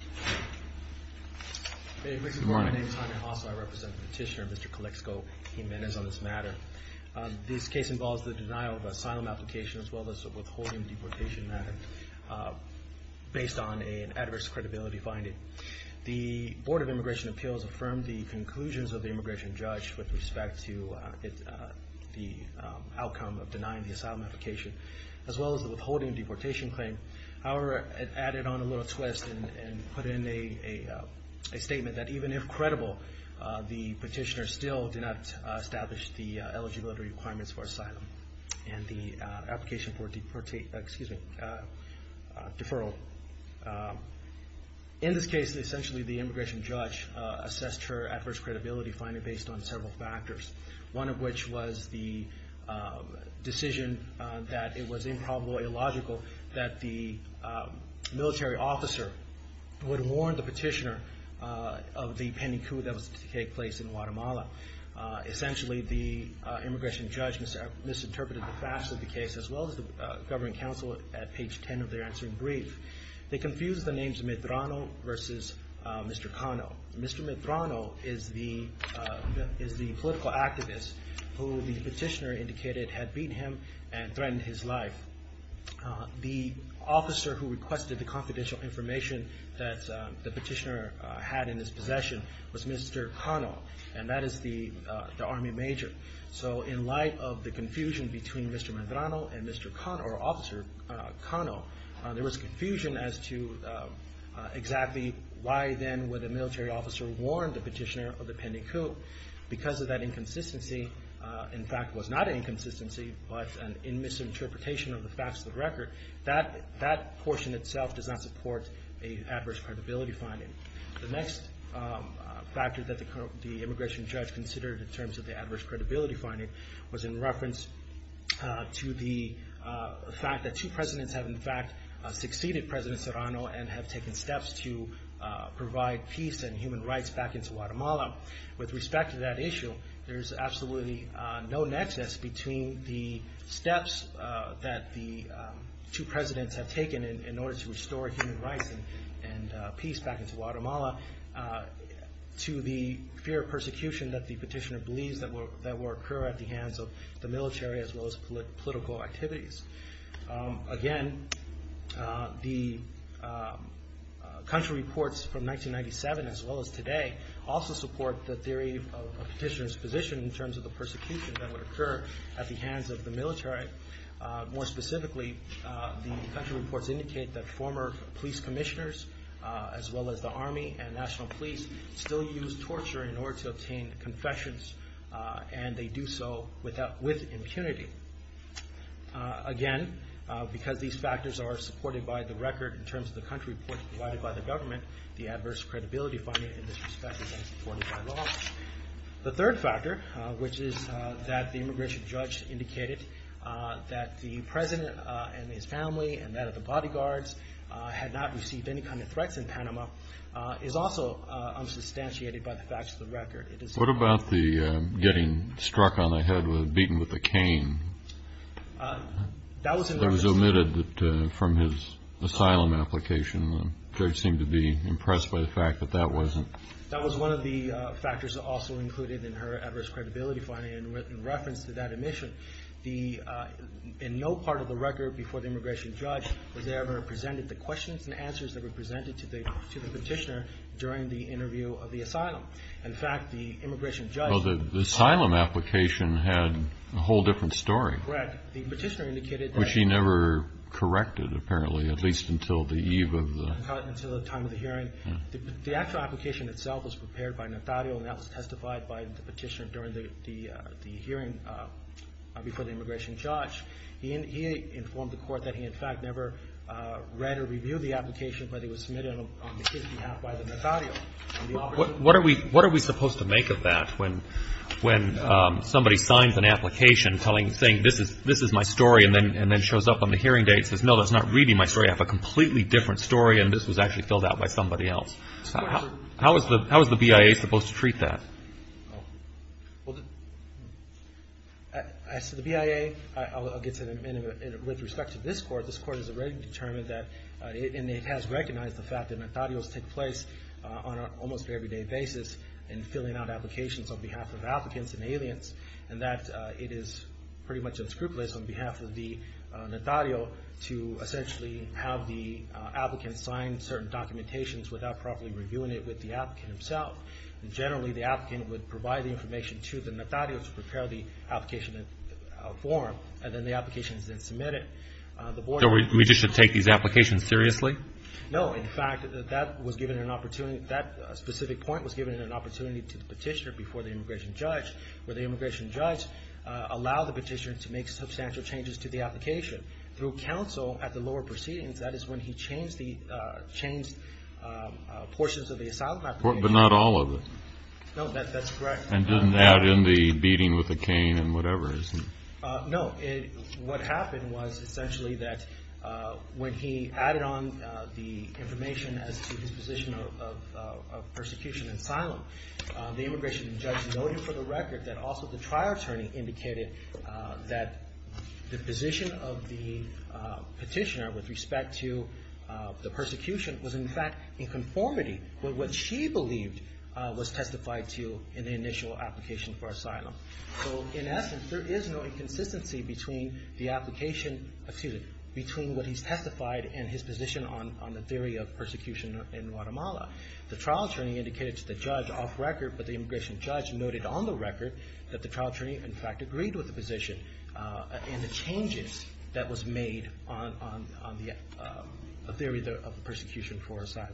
I represent the petitioner, Mr. Calexico Jimenez, on this matter. This case involves the denial of asylum application as well as withholding deportation matter based on an adverse credibility finding. The Board of Immigration Appeals affirmed the conclusions of the immigration judge with respect to the outcome of denying the asylum application as well as the withholding deportation claim. However, it added on a little twist and put in a statement that even if credible, the petitioner still did not establish the eligibility requirements for asylum and the application for deferral. In this case, essentially the immigration judge assessed her adverse credibility finding based on several factors, one of which was the decision that it was improbably illogical that the military officer would warn the petitioner of the pending coup that was to take place in Guatemala. Essentially, the immigration judge misinterpreted the facts of the case as well as the government counsel at page 10 of their answering brief. They confused the names Medrano versus Mr. Cano. Mr. Medrano is the political activist who the petitioner indicated had beaten him and threatened his life. The officer who requested the confidential information that the petitioner had in his possession was Mr. Cano, and that is the army major. So in light of the confusion between Mr. Medrano and Mr. Cano, or Officer Cano, there was confusion as to exactly why then would a military officer warn the petitioner of the pending coup. Because of that inconsistency, in fact it was not an inconsistency, but a misinterpretation of the facts of the record, that portion itself does not support an adverse credibility finding. The next factor that the immigration judge considered in terms of the adverse credibility finding was in reference to the fact that two presidents have in fact succeeded President Serrano and have taken steps to provide peace and human rights back into Guatemala. With respect to that issue, there's absolutely no nexus between the steps that the two presidents have taken in order to restore human rights and peace back into Guatemala, to the fear of persecution that the petitioner believes that will occur at the hands of the military as well as political activities. Again, the country reports from 1997 as well as today also support the theory of a petitioner's position in terms of the persecution that would occur at the hands of the military. More specifically, the country reports indicate that former police commissioners as well as the army and national police still use torture in order to obtain confessions, and they do so with impunity. Again, because these factors are provided by the government, the adverse credibility finding in this respect is not supported by law. The third factor, which is that the immigration judge indicated that the president and his family and that of the bodyguards had not received any kind of threats in Panama, is also unsubstantiated by the facts of the record. What about the getting struck on the head with, beaten with a cane? That was omitted from his asylum application. The judge seemed to be impressed by the fact that that wasn't... That was one of the factors also included in her adverse credibility finding in reference to that admission. In no part of the record before the immigration judge was ever presented the questions and answers that were presented to the petitioner during the interview of the asylum. In fact, the immigration judge... Well, the asylum application had a whole different story. Correct. The petitioner indicated that... Which he never corrected, apparently, at least until the eve of the... Until the time of the hearing. The actual application itself was prepared by Natario, and that was testified by the petitioner during the hearing before the immigration judge. He informed the court that he in fact never read or reviewed the application, but it was submitted on his behalf by the Natario. What are we supposed to make of that when somebody signs an application telling, saying, this is my story, and then shows up on the hearing day and says, no, that's not reading my story. I have a completely different story, and this was actually filled out by somebody else. How is the BIA supposed to treat that? Well, as to the BIA, I'll get to that in a minute. With respect to this court, this court has already determined that... And it has recognized the fact that Natarios take place on an almost everyday basis in filling out applications on behalf of applicants and aliens, and that it is pretty much unscrupulous on behalf of the Natario to essentially have the applicant sign certain documentations without properly reviewing it with the applicant himself. Generally, the applicant would provide the information to the Natario to prepare the application in a form, and then the application is then submitted. So we just should take these applications seriously? No. In fact, that specific point was given an opportunity to the petitioner before the immigration judge, where the immigration judge allowed the petitioner to make substantial changes to the application. Through counsel at the lower proceedings, that is when he changed portions of the asylum application. But not all of it? No, that's correct. And didn't add in the beating with the cane and whatever? No. What happened was essentially that when he added on the information as to his position of persecution in asylum, the immigration judge noted for the record that also the trial attorney indicated that the position of the petitioner with respect to the persecution was in fact in conformity with what she believed was testified to in the initial application for asylum. So in essence, there is no inconsistency between the application, excuse me, between what he's testified and his position on the theory of persecution in Guatemala. The trial attorney indicated to the judge off record, but the immigration judge noted on the record that the trial attorney in fact agreed with the position and the changes that was made on the theory of persecution for asylum.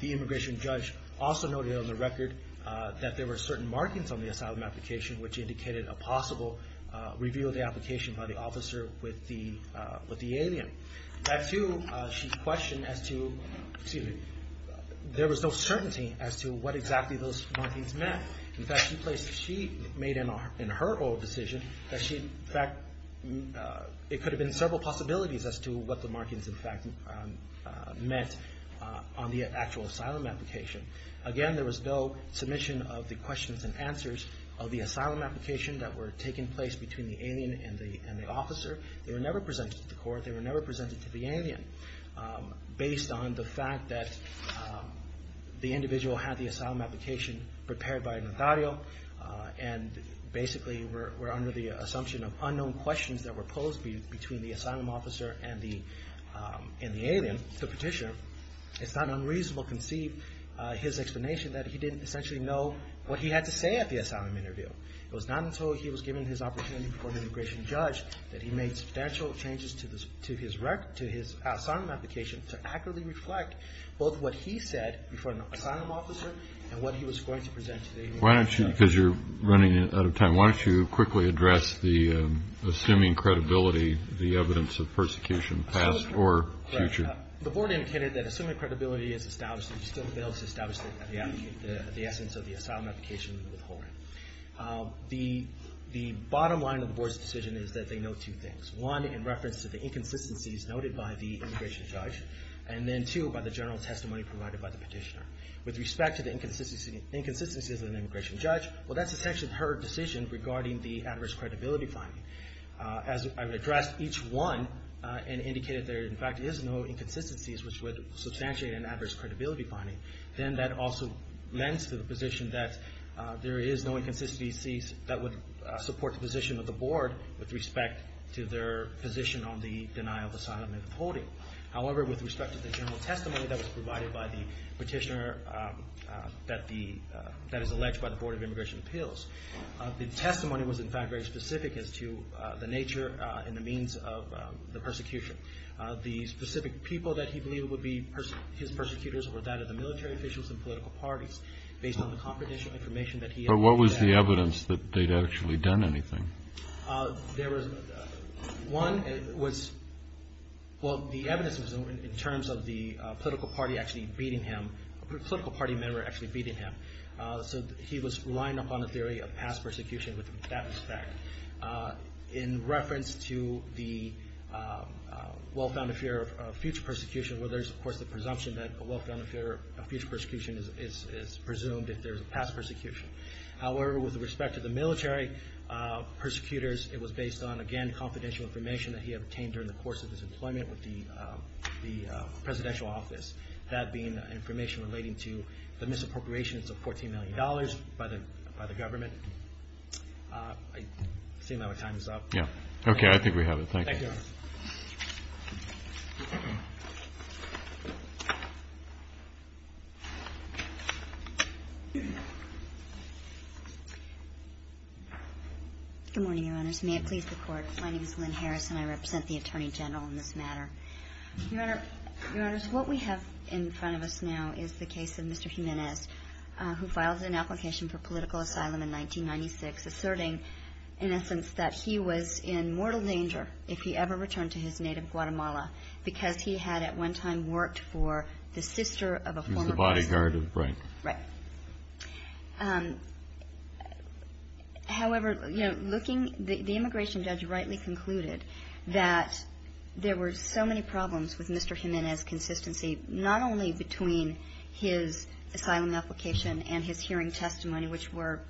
The immigration judge also noted on the record that there were certain markings on the asylum application which indicated a possible review of the application by the officer with the alien. That too, she questioned as to, excuse me, there was no certainty as to what exactly those markings meant. In fact, she placed, she made in her own decision that she in fact, it could have been several possibilities as to what the markings in fact meant on the actual asylum application. Again, there was no submission of the questions and answers of the asylum application that were taking place between the alien and the officer. They were never presented to court. They were never presented to the alien based on the fact that the individual had the asylum application prepared by Nathario and basically were under the assumption of unknown questions that were posed between the asylum officer and the alien, the petitioner. It's not unreasonable to conceive his explanation that he didn't essentially know what he had to say at the asylum interview. It was not until he was given his opportunity before the immigration judge that he made substantial changes to his asylum application to accurately reflect both what he said before the asylum officer and what he was going to present to the immigration judge. Why don't you, because you're running out of time, why don't you quickly address the assuming credibility, the evidence of persecution, past or future. The board indicated that assuming credibility is established and still fails to establish the essence of the asylum application and withholding. The bottom line of the board's decision is that they know two things. One, in reference to the inconsistencies noted by the immigration judge, and then two, by the general testimony provided by the petitioner. With respect to the inconsistencies of the immigration judge, well that's essentially her decision regarding the adverse credibility finding. As I've addressed each one and indicated there in fact is no inconsistencies which would substantiate an adverse credibility finding, then that also lends to the position that there is no inconsistency that would support the position of the board with respect to their position on the denial of asylum and withholding. However, with respect to the general testimony that was provided by the petitioner that is alleged by the Board of Immigration Appeals, the testimony was in fact very specific as to the nature and the means of the persecution. The specific people that he believed would be his persecutors were that of the military officials and political parties based on the confidential information that he had. But what was the evidence that they'd actually done anything? One was, well the evidence was in terms of the political party actually beating him, a political party member actually beating him. So he was relying upon a theory of past persecution with that respect. In reference to the well-founded fear of future persecution where there's of course the presumption that a well-founded fear of future persecution is presumed if there's a past persecution. However, with respect to the military persecutors, it was based on, again, confidential information that he obtained during the course of his employment with the presidential office. That being information relating to the misappropriation of $14 million by the government. I seem like my time is up. Okay, I think we have it. Thank you. Good morning, Your Honors. May it please the Court. My name is Lynn Harris and I represent the Attorney General in this matter. Your Honors, what we have in front of us now is the case of Mr. Jimenez who filed an application for political asylum in 1996 asserting in essence that he was in mortal danger if he ever returned to his native Guatemala because he had at one time worked for the sister of a former prisoner. He was the bodyguard of Bright. Right. However, the immigration judge rightly concluded that there were so many problems with Mr. Jimenez's consistency not only between his asylum application and his hearing testimony which were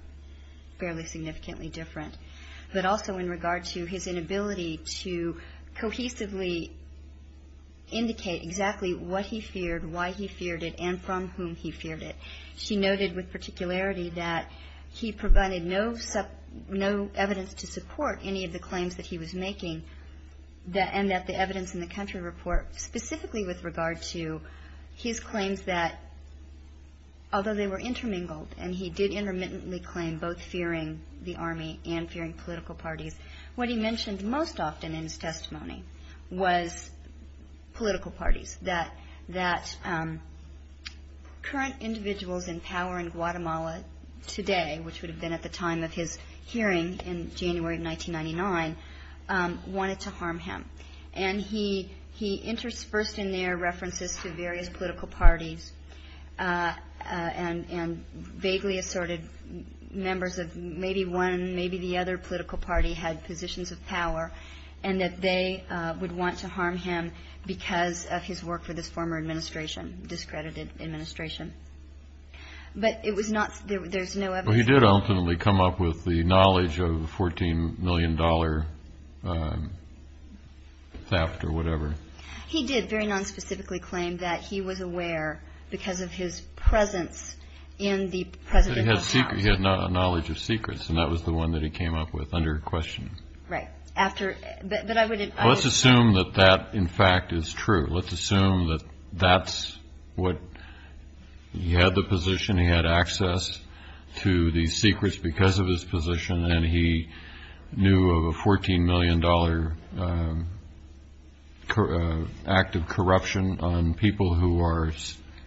fairly significantly different but also in regard to his inability to cohesively indicate exactly what he feared, why he feared it, and from whom he feared it. She noted with particularity that he provided no evidence to support any of the claims that he was making and that the evidence in the country report specifically with regard to his claims that although they were intermingled and he did intermittently claim both fearing the army and fearing political parties what he mentioned most often in his testimony was political parties. That current individuals in power in Guatemala today which would have been at the time of his hearing in January of 1999 wanted to harm him. And he interspersed in their references to various political parties and vaguely assorted members of maybe one maybe the other political party had positions of power and that they would want to harm him because of his work for this former administration discredited administration. But it was not, there's no evidence. Well he did ultimately come up with the knowledge of the 14 million dollar theft or whatever. He did very non-specifically claim that he was aware because of his presence in the presidential house. He had knowledge of secrets and that was the one that he came up with under question. Right. Let's assume that that in fact is true. Let's assume that that's what he had the position he had access to these secrets because of his position and he knew of a 14 million dollar active corruption on people who are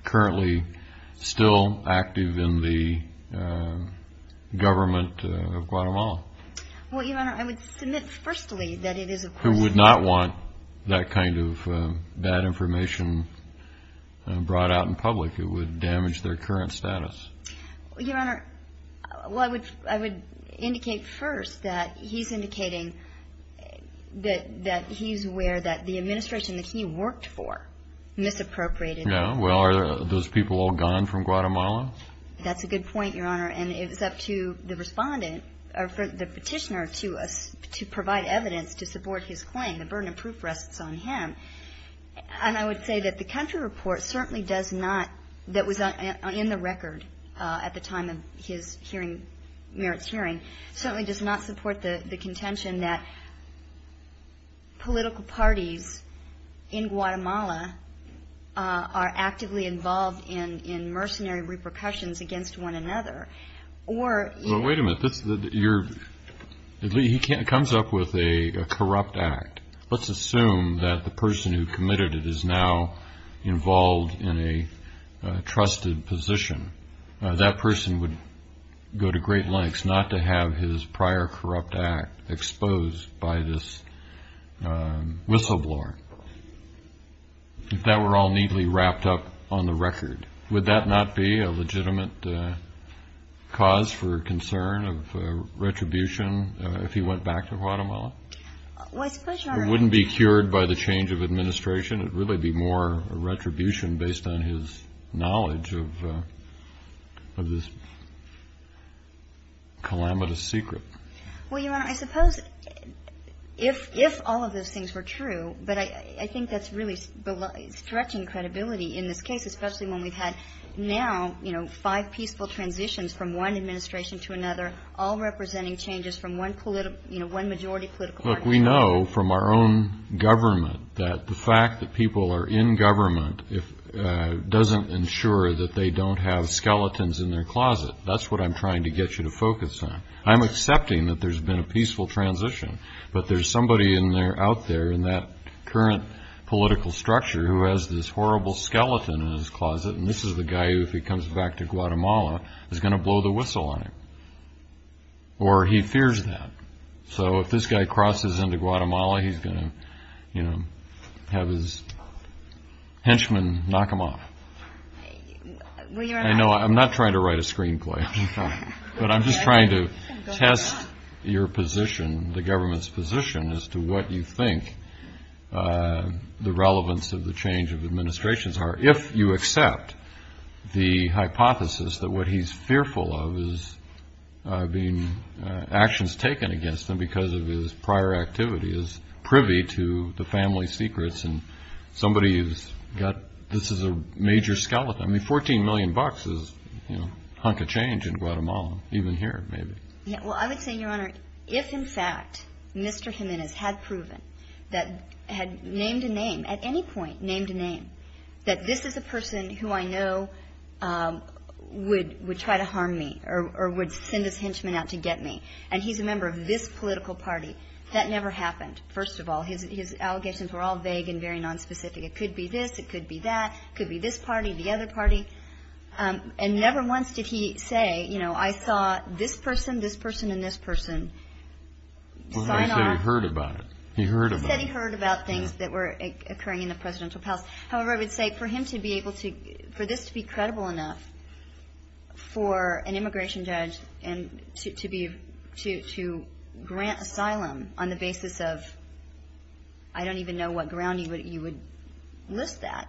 currently still active in the government of Guatemala. Well your honor I would submit firstly that it is of course. Who would not want that kind of bad information brought out in public. It would damage their current status. Your honor, well I would indicate first that he's indicating that he's aware that the administration that he worked for misappropriated. Yeah, well are those people all gone from Guatemala? That's a good point your honor and it was up to the respondent or the petitioner to provide evidence to support his claim. The burden of proof rests on him and I would say that the country report certainly does not that was in the record at the time of his hearing merits hearing certainly does not support the contention that political parties in Guatemala are actively involved in mercenary repercussions against one another. Well wait a minute, he comes up with a corrupt act. Let's assume that the person who committed it is now involved in a trusted position. That person would go to great lengths not to have his prior corrupt act exposed by this whistleblower. If that were all neatly wrapped up on the record would that not be a legitimate cause for concern of retribution if he went back to Guatemala? Well I suppose your honor It wouldn't be cured by the change of administration it would really be more retribution based on his knowledge of this calamitous secret. Well your honor I suppose if all of those things were true but I think that's really stretching credibility in this case especially when we've had now five peaceful transitions from one administration to another all representing changes from one majority political party. Look we know from our own government that the fact that people are in government doesn't ensure that they don't have skeletons in their closet. That's what I'm trying to get you to focus on. I'm accepting that there's been a peaceful transition but there's somebody out there in that current political structure who has this horrible skeleton in his closet and this is the guy who if he comes back to Guatemala is going to blow the whistle on him or he fears that. So if this guy crosses into Guatemala he's going to have his henchmen knock him off. I know I'm not trying to write a screenplay but I'm just trying to test your position the government's position as to what you think the relevance of the change of administrations are if you accept the hypothesis that what he's fearful of is actions taken against him because of his prior activities privy to the family secrets and somebody who's got this is a major skeleton I mean 14 million bucks is a hunk of change in Guatemala even here maybe. Well I would say Your Honor if in fact Mr. Jimenez had proven that had named a name at any point named a name that this is a person who I know would try to harm me or would send his henchmen out to get me and he's a member of this political party that never happened first of all his allegations were all vague and very nonspecific it could be this, it could be that it could be this party, the other party and never once did he say you know I saw this person this person and this person sign off He said he heard about it He said he heard about things that were occurring in the presidential palace however I would say for him to be able to for this to be credible enough for an immigration judge and to grant asylum on the basis of I don't even know what ground you would list that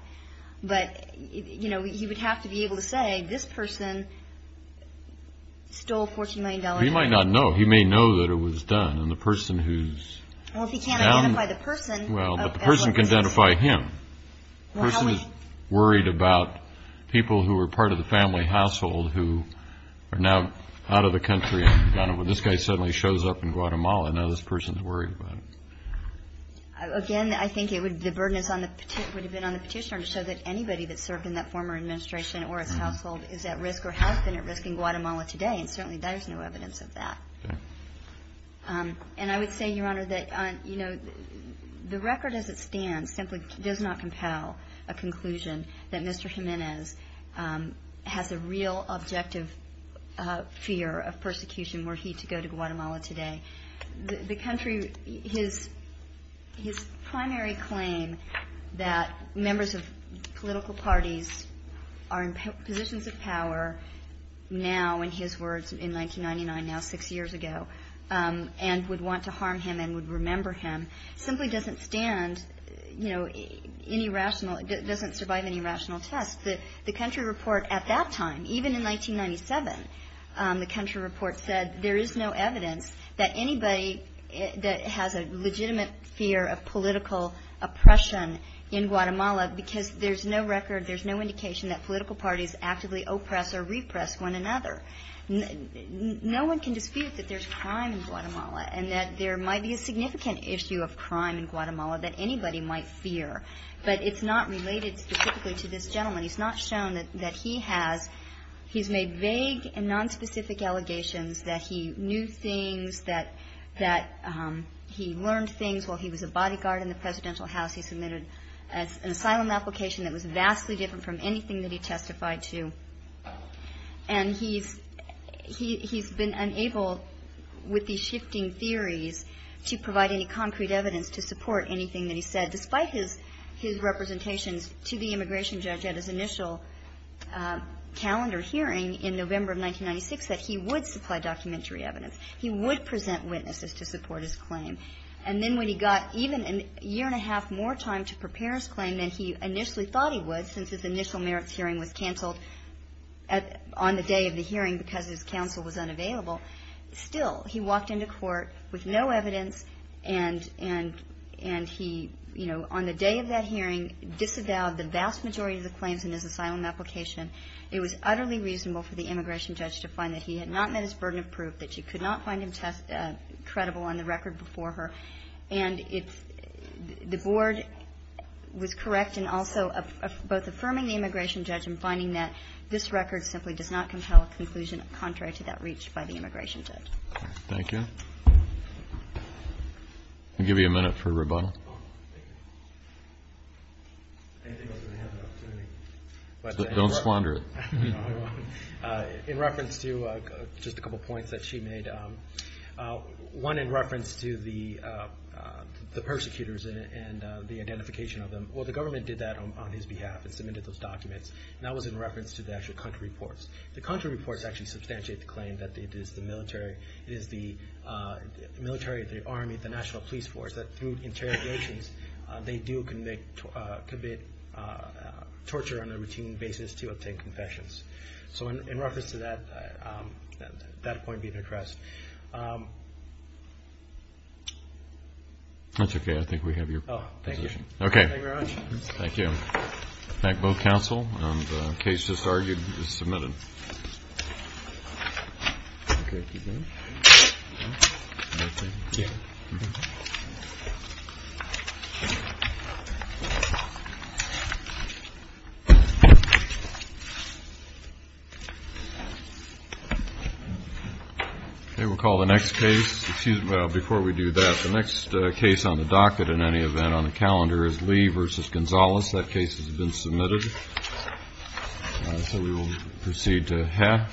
but you know he would have to be able to say this person stole 14 million dollars He might not know he may know that it was done and the person who's Well if he can't identify the person Well but the person can identify him The person is worried about people who are part of the family household who are now out of the country and this guy suddenly shows up in Guatemala and now this person is worried about him Again I think it would the burden would have been on the petitioner to show that anybody that served in that former administration or his household is at risk or has been at risk in Guatemala today and certainly there's no evidence of that and I would say your honor that the record as it stands simply does not compel a conclusion that Mr. Jimenez has a real objective fear of persecution were he to go to Guatemala today the country his primary claim that members of political parties are in positions of power now in his words in 1999 now six years ago and would want to harm him and would remember him simply doesn't stand any rational doesn't survive any rational test the country report at that time even in 1997 the country report said there is no evidence that anybody that has a legitimate fear of political oppression in Guatemala because there's no record there's no indication that political parties actively oppress or repress one another no one can dispute that there's crime in Guatemala and that there might be a significant issue of crime in Guatemala that anybody might fear but it's not related specifically to this gentleman he's not shown that he has he's made vague and non-specific allegations that he knew things that he learned things while he was a bodyguard in the presidential house he submitted an asylum application that was vastly different from anything that he testified to and he's he's been unable with these shifting theories to provide any concrete evidence to support anything that he said despite his representations to the immigration judge at his initial calendar hearing in November of 1996 that he would supply documentary evidence he would present witnesses to support his claim and then when he got even a year and a half more time to prepare his testimony he would since his initial merits hearing was cancelled on the day of the hearing because his counsel was unavailable still he walked into court with no evidence and he on the day of that hearing disavowed the vast majority of the claims in his asylum application it was utterly reasonable for the immigration judge to find that he had not met his burden of proof that she could not find him credible on the record before her and the board was correct in also affirming the immigration judge in finding that this record simply does not compel a conclusion contrary to that reached by the immigration judge thank you I'll give you a minute for rebuttal don't squander it in reference to just a couple points that she made one in reference to the the persecutors and the identification of them well the government did that on his behalf and submitted those documents and that was in reference to the country reports the country reports actually substantiate the claim that it is the military the army, the national police force that through interrogations they do commit torture on a routine basis to obtain confessions so in reference to that that point being addressed that's okay I think we have your position thank you very much thank you okay we'll call the next case excuse me, before we do that the next case on the docket in any event on the calendar is Lee v. Gonzalez that case has been submitted so we will proceed to Ha v. Gonzalez